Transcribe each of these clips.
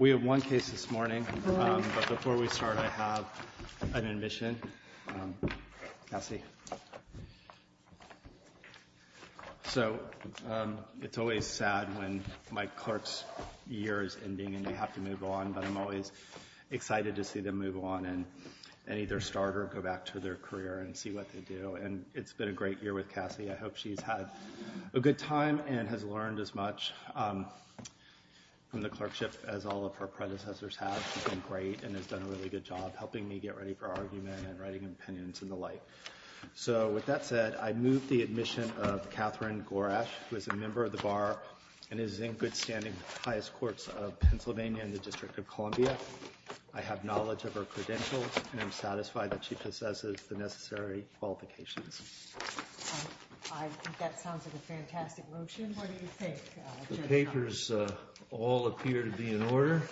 We have one case this morning, but before we start, I have an admission. Cassie. So, it's always sad when my clerk's year is ending and they have to move on, but I'm always excited to see them move on and either start or go back to their career and see what they do. And it's been a great year with Cassie. I hope she's had a good time and has learned as much from the clerkship as all of her predecessors have. She's been great and has done a really good job helping me get ready for argument and writing opinions and the like. So, with that said, I move the admission of Catherine Gorash, who is a member of the Bar and is in good standing with the highest courts of Pennsylvania and the District of Columbia. I have knowledge of her credentials and I'm satisfied that she possesses the necessary qualifications. I think that sounds like a fantastic motion. What do you think? The papers all appear to be in order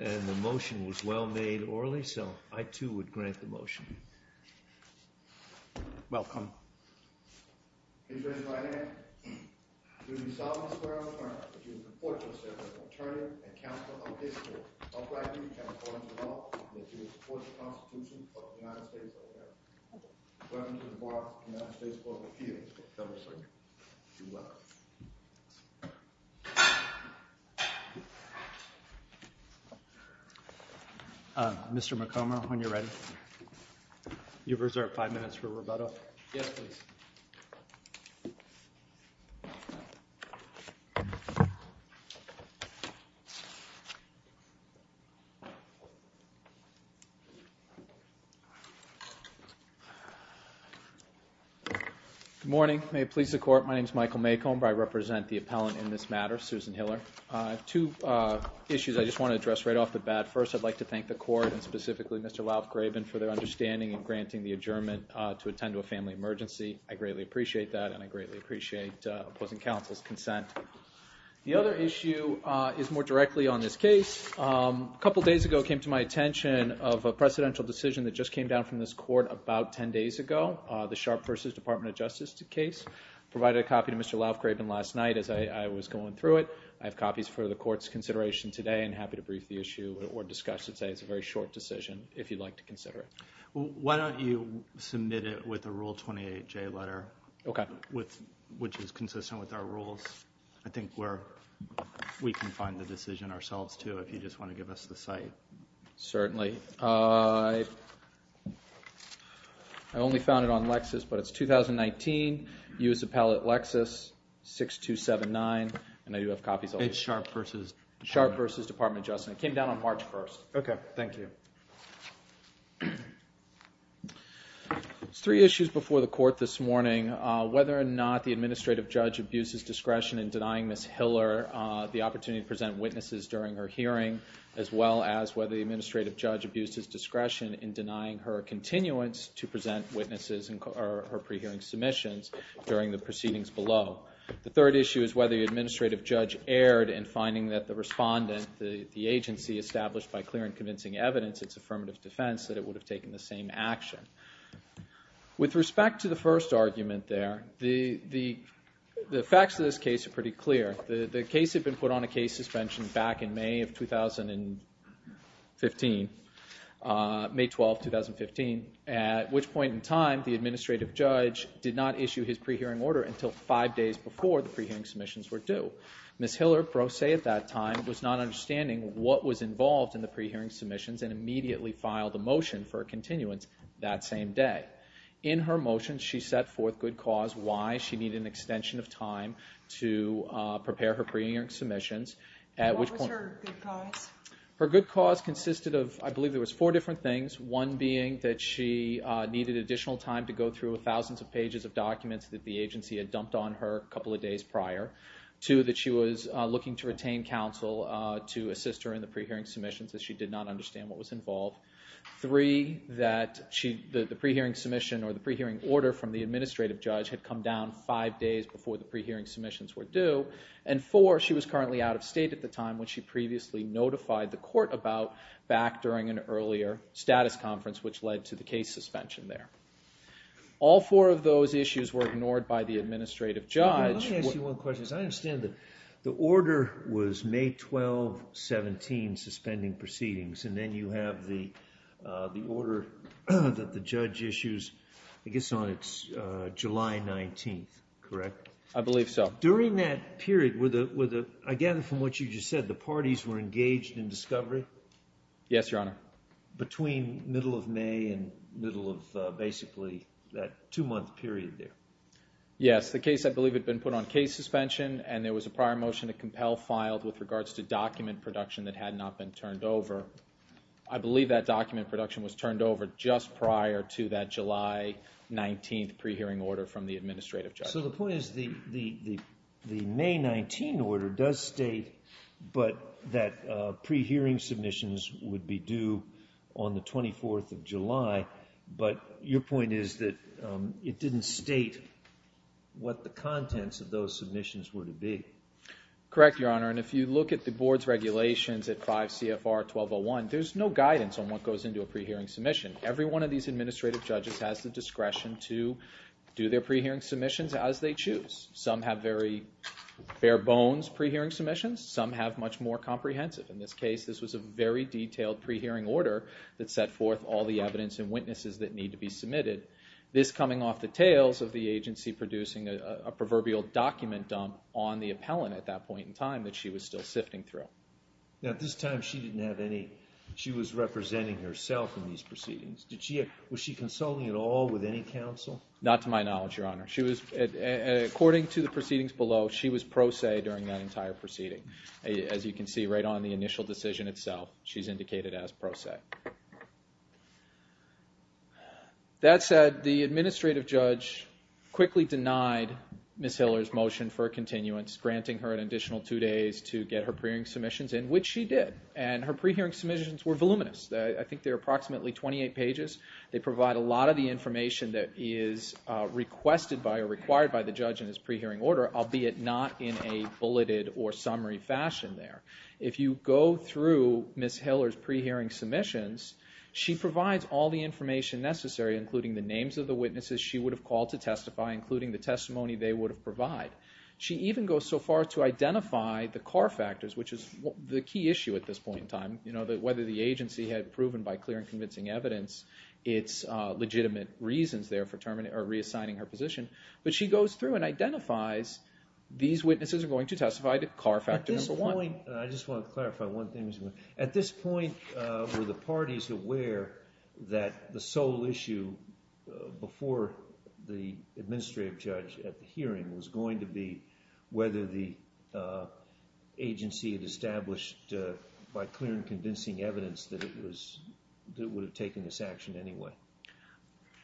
and the motion was well made orally, so I too would grant the motion. Welcome. Mr. McComber, when you're ready. You have reserved five minutes for rebuttal. Yes, please. Good morning. May it please the Court, my name is Michael McComber. I represent the appellant in this matter, Susan Hiller. I have two issues I just want to address right off the bat. First, I'd like to thank the Court and specifically Mr. Laufgraben for their understanding and granting the adjournment to attend to a family emergency. I greatly appreciate that and I greatly appreciate opposing counsel's consent. The other issue is more directly on this case. A couple days ago it came to my attention of a precedential decision that just came down from this Court about ten days ago. The Sharpe v. Department of Justice case. I provided a copy to Mr. Laufgraben last night as I was going through it. I have copies for the Court's consideration today and am happy to brief the issue or discuss it. I'd say it's a very short decision if you'd like to consider it. Why don't you submit it with a Rule 28J letter, which is consistent with our rules. I think we can find the decision ourselves too if you just want to give us the site. Certainly. I only found it on Lexis, but it's 2019. U.S. Appellate Lexis, 6279. And I do have copies. It's Sharpe v. Department of Justice. Sharpe v. Department of Justice. It came down on March 1st. Okay, thank you. There's three issues before the Court this morning. Whether or not the administrative judge abuses discretion in denying Ms. Hiller the opportunity to present witnesses during her hearing as well as whether the administrative judge abuses discretion in denying her continuance to present witnesses in her pre-hearing submissions during the proceedings below. The third issue is whether the administrative judge erred in finding that the respondent, the agency established by clear and convincing evidence, its affirmative defense, that it would have taken the same action. With respect to the first argument there, the facts of this case are pretty clear. The case had been put on a case suspension back in May of 2015, May 12, 2015, at which point in time the administrative judge did not issue his pre-hearing order until five days before the pre-hearing submissions were due. Ms. Hiller, pro se at that time, was not understanding what was involved in the pre-hearing submissions and immediately filed a motion for a continuance that same day. In her motion she set forth good cause, why she needed an extension of time to prepare her pre-hearing submissions. What was her good cause? Her good cause consisted of, I believe there was four different things. One being that she needed additional time to go through thousands of pages of documents that the agency had dumped on her a couple of days prior. Two, that she was looking to retain counsel to assist her in the pre-hearing submissions as she did not understand what was involved. Three, that the pre-hearing submission or the pre-hearing order from the administrative judge had come down five days before the pre-hearing submissions were due. And four, she was currently out of state at the time when she previously notified the court about back during an earlier status conference, which led to the case suspension there. All four of those issues were ignored by the administrative judge. Let me ask you one question, because I understand that the order was May 12, 17, suspending proceedings, and then you have the order that the judge issues, I guess, on July 19, correct? I believe so. During that period, I gather from what you just said, the parties were engaged in discovery? Yes, Your Honor. Between middle of May and middle of basically that two-month period there? Yes, the case I believe had been put on case suspension, and there was a prior motion to compel filed with regards to document production that had not been turned over. I believe that document production was turned over just prior to that July 19 pre-hearing order from the administrative judge. So the point is the May 19 order does state that pre-hearing submissions would be due on the 24th of July, but your point is that it didn't state what the contents of those submissions were to be. Correct, Your Honor, and if you look at the Board's regulations at 5 CFR 1201, there's no guidance on what goes into a pre-hearing submission. Every one of these administrative judges has the discretion to do their pre-hearing submissions as they choose. Some have very bare-bones pre-hearing submissions. Some have much more comprehensive. In this case, this was a very detailed pre-hearing order that set forth all the evidence and witnesses that need to be submitted. This coming off the tails of the agency producing a proverbial document dump on the appellant at that point in time that she was still sifting through. Now at this time she didn't have any – she was representing herself in these proceedings. Was she consulting at all with any counsel? Not to my knowledge, Your Honor. According to the proceedings below, she was pro se during that entire proceeding. As you can see right on the initial decision itself, she's indicated as pro se. That said, the administrative judge quickly denied Ms. Hiller's motion for a continuance, granting her an additional two days to get her pre-hearing submissions in, which she did. And her pre-hearing submissions were voluminous. I think they're approximately 28 pages. They provide a lot of the information that is requested by or required by the judge in his pre-hearing order, albeit not in a bulleted or summary fashion there. If you go through Ms. Hiller's pre-hearing submissions, she provides all the information necessary, including the names of the witnesses she would have called to testify, including the testimony they would have provided. She even goes so far to identify the car factors, which is the key issue at this point in time, whether the agency had proven by clear and convincing evidence its legitimate reasons there for reassigning her position. But she goes through and identifies these witnesses are going to testify to car factor number one. At this point, I just want to clarify one thing. At this point, were the parties aware that the sole issue before the administrative judge at the hearing was going to be whether the agency had established by clear and convincing evidence that it would have taken this action anyway?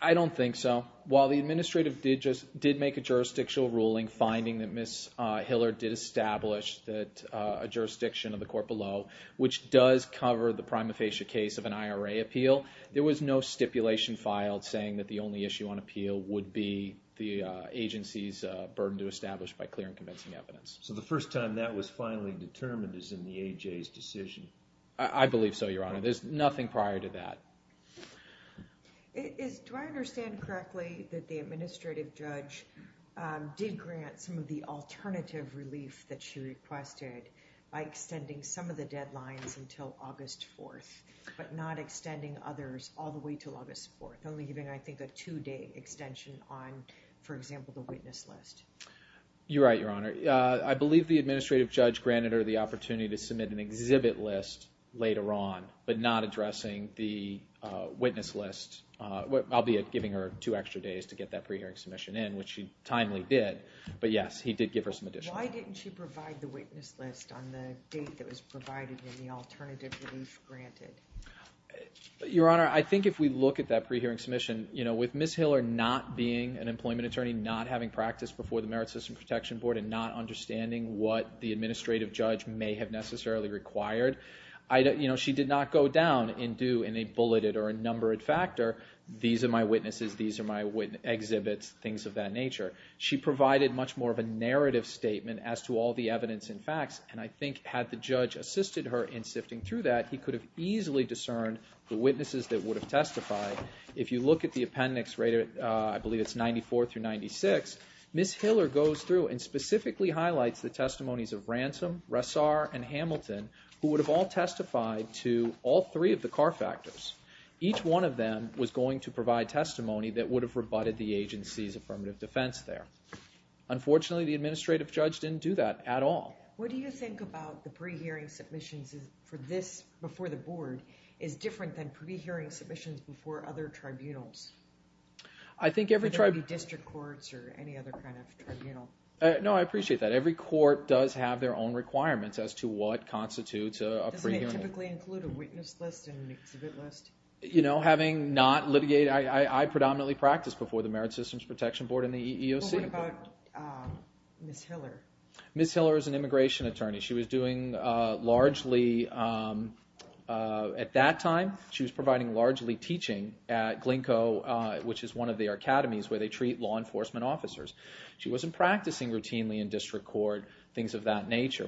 I don't think so. While the administrative did make a jurisdictional ruling finding that Ms. Hiller did establish a jurisdiction of the court below, which does cover the prima facie case of an IRA appeal, there was no stipulation filed saying that the only issue on appeal would be the agency's burden to establish by clear and convincing evidence. So the first time that was finally determined is in the AJ's decision? I believe so, Your Honor. There's nothing prior to that. Do I understand correctly that the administrative judge did grant some of the alternative relief that she requested by extending some of the deadlines until August 4th, but not extending others all the way to August 4th, only giving, I think, a two-day extension on, for example, the witness list? You're right, Your Honor. I believe the administrative judge granted her the opportunity to submit an exhibit list later on, but not addressing the witness list, albeit giving her two extra days to get that pre-hearing submission in, which she timely did, but yes, he did give her some additional time. Why didn't she provide the witness list on the date that was provided in the alternative relief granted? Your Honor, I think if we look at that pre-hearing submission, with Ms. Hiller not being an employment attorney, not having practiced before the Merit System Protection Board, and not understanding what the administrative judge may have necessarily required, she did not go down and do a bulleted or a numbered factor, these are my witnesses, these are my exhibits, things of that nature. She provided much more of a narrative statement as to all the evidence and facts, and I think had the judge assisted her in sifting through that, he could have easily discerned the witnesses that would have testified. If you look at the appendix, I believe it's 94 through 96, Ms. Hiller goes through and specifically highlights the testimonies of Ransom, Ressar, and Hamilton, who would have all testified to all three of the car factors. Each one of them was going to provide testimony that would have rebutted the agency's affirmative defense there. Unfortunately, the administrative judge didn't do that at all. What do you think about the pre-hearing submissions for this before the board is different than pre-hearing submissions before other tribunals? Are there going to be district courts or any other kind of tribunal? No, I appreciate that. Every court does have their own requirements as to what constitutes a pre-hearing. Doesn't it typically include a witness list and an exhibit list? You know, having not litigated, I predominantly practiced before the Merit Systems Protection Board and the EEOC. What about Ms. Hiller? Ms. Hiller is an immigration attorney. She was doing largely, at that time, she was providing largely teaching at Glinko, which is one of their academies where they treat law enforcement officers. She wasn't practicing routinely in district court, things of that nature.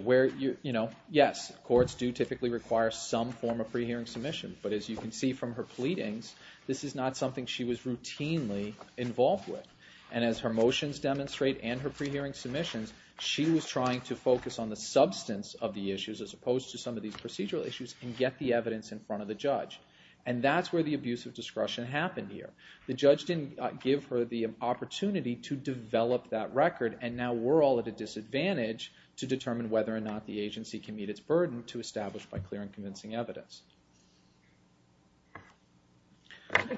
Yes, courts do typically require some form of pre-hearing submission, but as you can see from her pleadings, this is not something she was routinely involved with. And as her motions demonstrate and her pre-hearing submissions, she was trying to focus on the substance of the issues as opposed to some of these procedural issues and get the evidence in front of the judge. And that's where the abuse of discretion happened here. The judge didn't give her the opportunity to develop that record, and now we're all at a disadvantage to determine whether or not the agency can meet its burden to establish by clear and convincing evidence.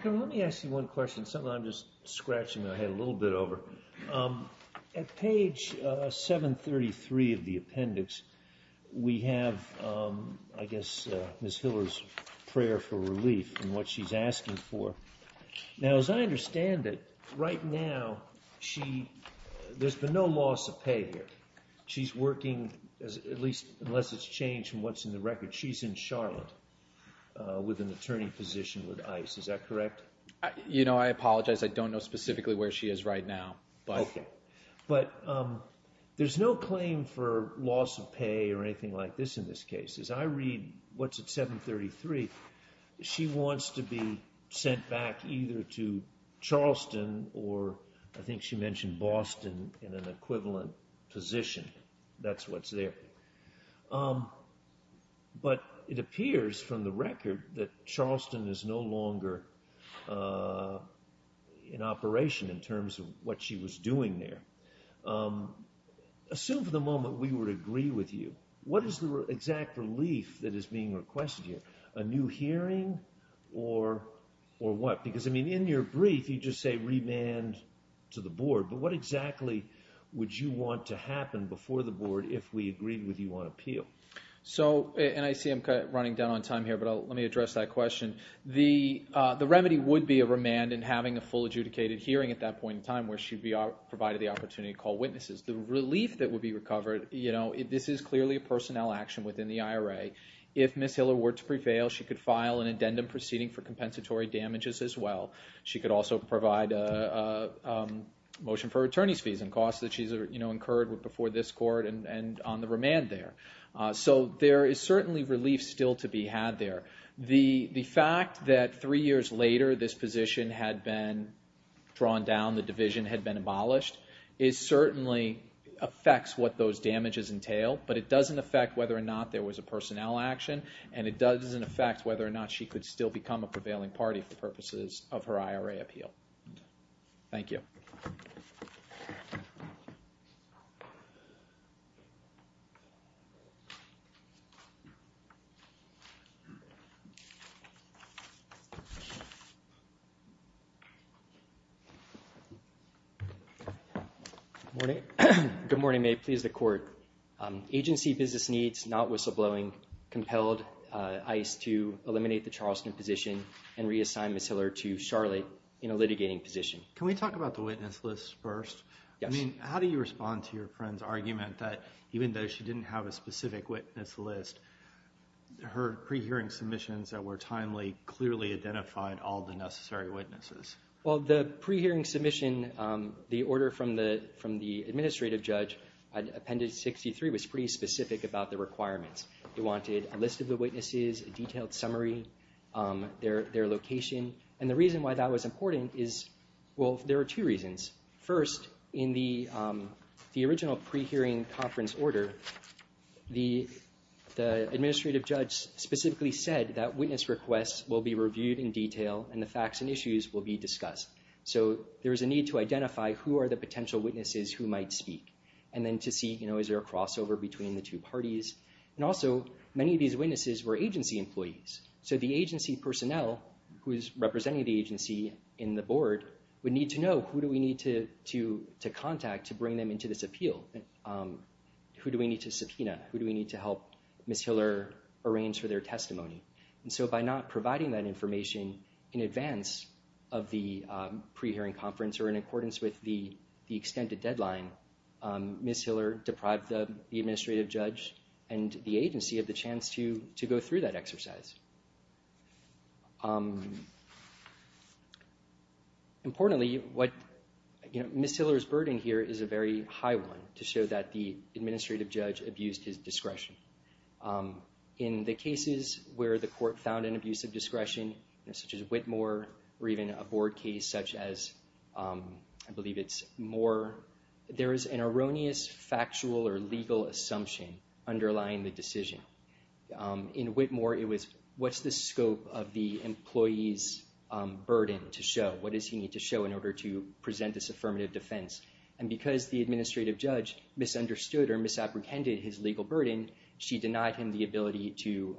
Let me ask you one question, something I'm just scratching my head a little bit over. At page 733 of the appendix, we have, I guess, Ms. Hiller's prayer for relief and what she's asking for. Now, as I understand it, right now, there's been no loss of pay here. She's working, at least unless it's changed from what's in the record, she's in Charlotte with an attorney position with ICE. Is that correct? You know, I apologize. I don't know specifically where she is right now. Okay. But there's no claim for loss of pay or anything like this in this case. As I read what's at 733, she wants to be sent back either to Charleston or I think she mentioned Boston in an equivalent position. That's what's there. But it appears from the record that Charleston is no longer in operation in terms of what she was doing there. Assume for the moment we would agree with you. What is the exact relief that is being requested here? A new hearing or what? Because, I mean, in your brief, you just say remand to the board. But what exactly would you want to happen before the board if we agreed with you on appeal? So, and I see I'm running down on time here, but let me address that question. The remedy would be a remand and having a full adjudicated hearing at that point in time where she'd be provided the opportunity to call witnesses. The relief that would be recovered, you know, this is clearly a personnel action within the IRA. If Ms. Hiller were to prevail, she could file an addendum proceeding for compensatory damages as well. She could also provide a motion for attorney's fees and costs that she's, you know, incurred before this court and on the remand there. So there is certainly relief still to be had there. The fact that three years later this position had been drawn down, the division had been abolished, it certainly affects what those damages entail. But it doesn't affect whether or not there was a personnel action. And it doesn't affect whether or not she could still become a prevailing party for purposes of her IRA appeal. Thank you. Good morning. Good morning. May it please the court. Agency business needs, not whistleblowing, compelled ICE to eliminate the Charleston position and reassign Ms. Hiller to Charlotte in a litigating position. Can we talk about the witness list first? Yes. I mean, how do you respond to your friend's argument that even though she didn't have a specific witness list, her pre-hearing submissions that were timely clearly identified all the necessary witnesses? Well, the pre-hearing submission, the order from the administrative judge, Appendix 63 was pretty specific about the requirements. They wanted a list of the witnesses, a detailed summary, their location. And the reason why that was important is, well, there are two reasons. First, in the original pre-hearing conference order, the administrative judge specifically said that witness requests will be reviewed in detail and the facts and issues will be discussed. So there is a need to identify who are the potential witnesses who might speak and then to see, you know, is there a crossover between the two parties. And also, many of these witnesses were agency employees. So the agency personnel who is representing the agency in the board would need to know, who do we need to contact to bring them into this appeal? Who do we need to subpoena? Who do we need to help Ms. Hiller arrange for their testimony? And so by not providing that information in advance of the pre-hearing conference or in accordance with the extended deadline, Ms. Hiller deprived the administrative judge and the agency of the chance to go through that exercise. Importantly, Ms. Hiller's burden here is a very high one to show that the administrative judge abused his discretion. In the cases where the court found an abuse of discretion, such as Whitmore or even a board case such as, I believe it's Moore, there is an erroneous factual or legal assumption underlying the decision. In Whitmore, it was, what's the scope of the employee's burden to show? What does he need to show in order to present this affirmative defense? And because the administrative judge misunderstood or misapprehended his legal burden, she denied him the ability to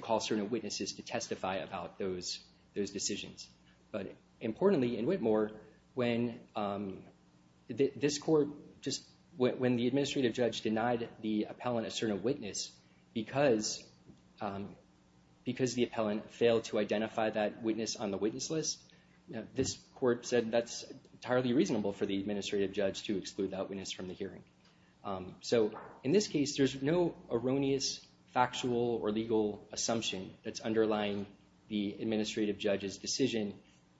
call certain witnesses to testify about those decisions. But importantly, in Whitmore, when the administrative judge denied the appellant a certain witness because the appellant failed to identify that witness on the witness list, this court said that's entirely reasonable for the administrative judge to exclude that witness from the hearing. So in this case, there's no erroneous factual or legal assumption that's underlying the administrative judge's decision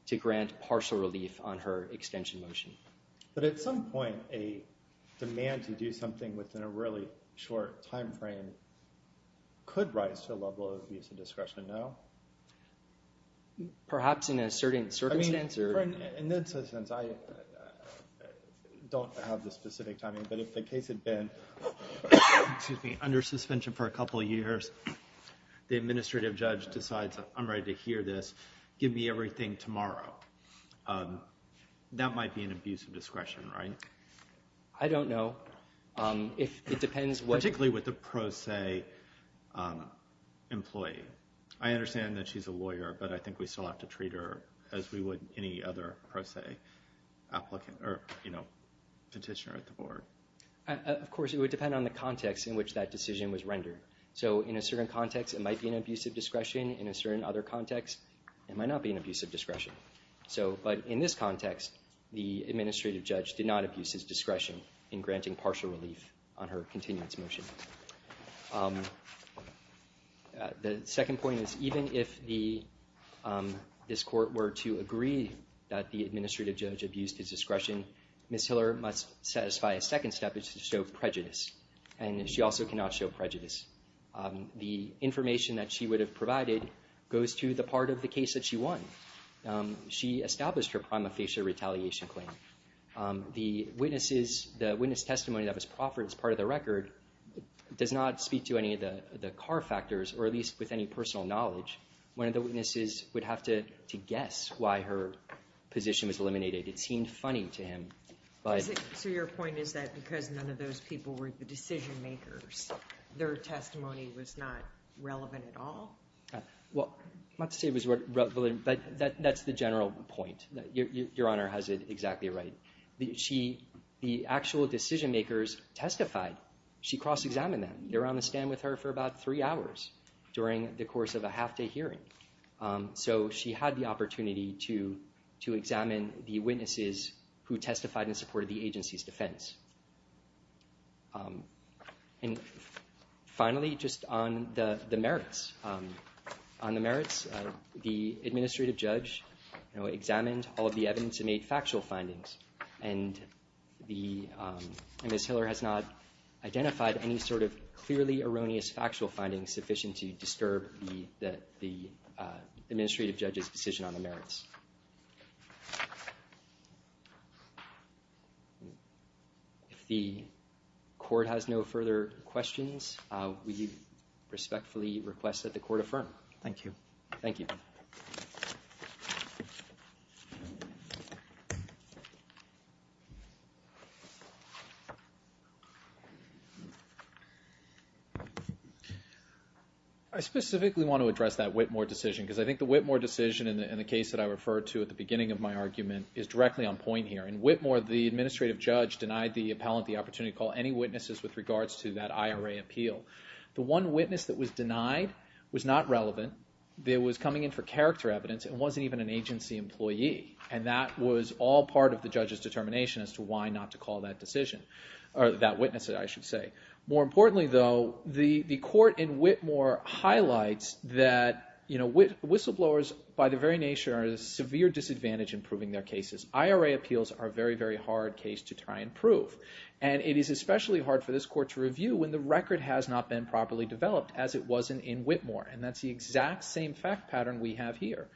to grant partial relief on her extension motion. But at some point, a demand to do something within a really short time frame could rise to a level of abuse of discretion, no? Perhaps in a certain circumstance. In that sense, I don't have the specific timing. But if the case had been under suspension for a couple of years, the administrative judge decides I'm ready to hear this, give me everything tomorrow, that might be an abuse of discretion, right? I don't know. Particularly with a pro se employee. I understand that she's a lawyer, but I think we still have to treat her as we would any other pro se petitioner at the board. Of course, it would depend on the context in which that decision was rendered. So in a certain context, it might be an abuse of discretion. In a certain other context, it might not be an abuse of discretion. But in this context, the administrative judge did not abuse his discretion in granting partial relief on her continuance motion. The second point is even if this court were to agree that the administrative judge abused his discretion, Ms. Hiller must satisfy a second step, which is to show prejudice. And she also cannot show prejudice. The information that she would have provided goes to the part of the case that she won. She established her prima facie retaliation claim. The witness testimony that was offered as part of the record does not speak to any of the car factors, or at least with any personal knowledge. One of the witnesses would have to guess why her position was eliminated. It seemed funny to him. So your point is that because none of those people were the decision makers, their testimony was not relevant at all? Well, not to say it was relevant, but that's the general point. Your Honor has it exactly right. The actual decision makers testified. She cross-examined them. They were on the stand with her for about three hours during the course of a half-day hearing. So she had the opportunity to examine the witnesses who testified in support of the agency's defense. And finally, just on the merits. On the merits, the administrative judge examined all of the evidence and made factual findings. And Ms. Hiller has not identified any sort of clearly erroneous factual findings sufficient to disturb the administrative judge's decision on the merits. If the Court has no further questions, we respectfully request that the Court affirm. Thank you. Thank you. I specifically want to address that Whitmore decision because I think the Whitmore decision in the case that I referred to at the beginning of my argument is directly on point here. In Whitmore, the administrative judge denied the appellant the opportunity to call any witnesses with regards to that IRA appeal. The one witness that was denied was not relevant. It was coming in for character evidence. It wasn't even an agency employee. And that was all part of the judge's determination as to why not to call that decision, or that witness, I should say. More importantly, though, the Court in Whitmore highlights that whistleblowers, by their very nature, are at a severe disadvantage in proving their cases. IRA appeals are a very, very hard case to try and prove. And it is especially hard for this Court to review when the record has not been properly developed, as it was in Whitmore. And that's the exact same fact pattern we have here.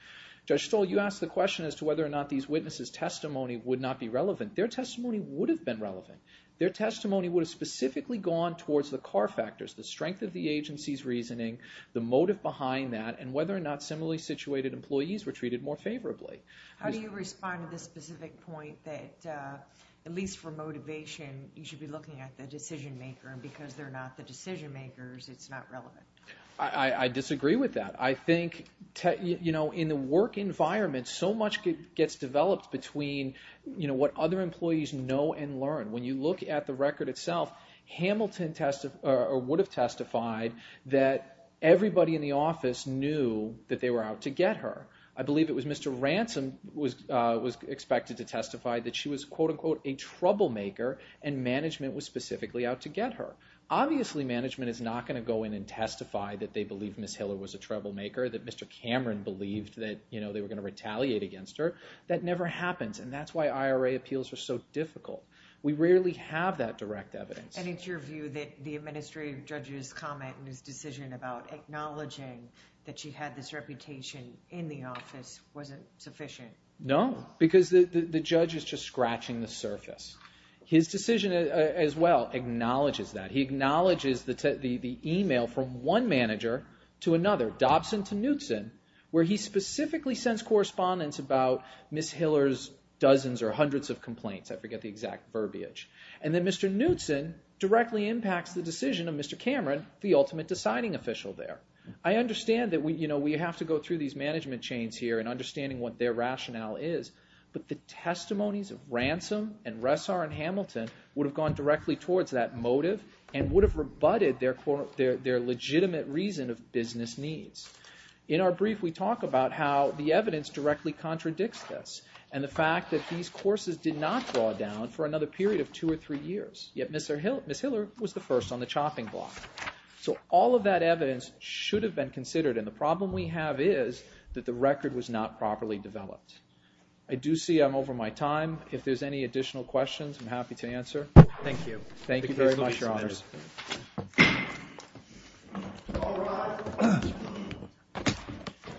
Judge Stoll, you asked the question as to whether or not these witnesses' testimony would not be relevant. Their testimony would have been relevant. Their testimony would have specifically gone towards the car factors, the strength of the agency's reasoning, the motive behind that, and whether or not similarly situated employees were treated more favorably. How do you respond to the specific point that, at least for motivation, you should be looking at the decision-maker, and because they're not the decision-makers, it's not relevant? I disagree with that. I think, you know, in the work environment, so much gets developed between what other employees know and learn. When you look at the record itself, Hamilton would have testified that everybody in the office knew that they were out to get her. I believe it was Mr. Ransom who was expected to testify that she was, quote-unquote, a troublemaker, and management was specifically out to get her. Obviously management is not going to go in and testify that they believe Ms. Hiller was a troublemaker, that Mr. Cameron believed that, you know, they were going to retaliate against her. That never happens, and that's why IRA appeals are so difficult. We rarely have that direct evidence. And it's your view that the Administrative Judge's comment in his decision about acknowledging that she had this reputation in the office wasn't sufficient? No, because the judge is just scratching the surface. His decision as well acknowledges that. He acknowledges the email from one manager to another, Dobson to Knutson, where he specifically sends correspondence about Ms. Hiller's dozens or hundreds of complaints. I forget the exact verbiage. And then Mr. Knutson directly impacts the decision of Mr. Cameron, the ultimate deciding official there. I understand that, you know, we have to go through these management chains here and understanding what their rationale is, but the testimonies of Ransom and Ressar and Hamilton would have gone directly towards that motive and would have rebutted their legitimate reason of business needs. In our brief we talk about how the evidence directly contradicts this and the fact that these courses did not draw down for another period of two or three years, yet Ms. Hiller was the first on the chopping block. So all of that evidence should have been considered, and the problem we have is that the record was not properly developed. I do see I'm over my time. If there's any additional questions, I'm happy to answer. Thank you. Thank you very much, Your Honors.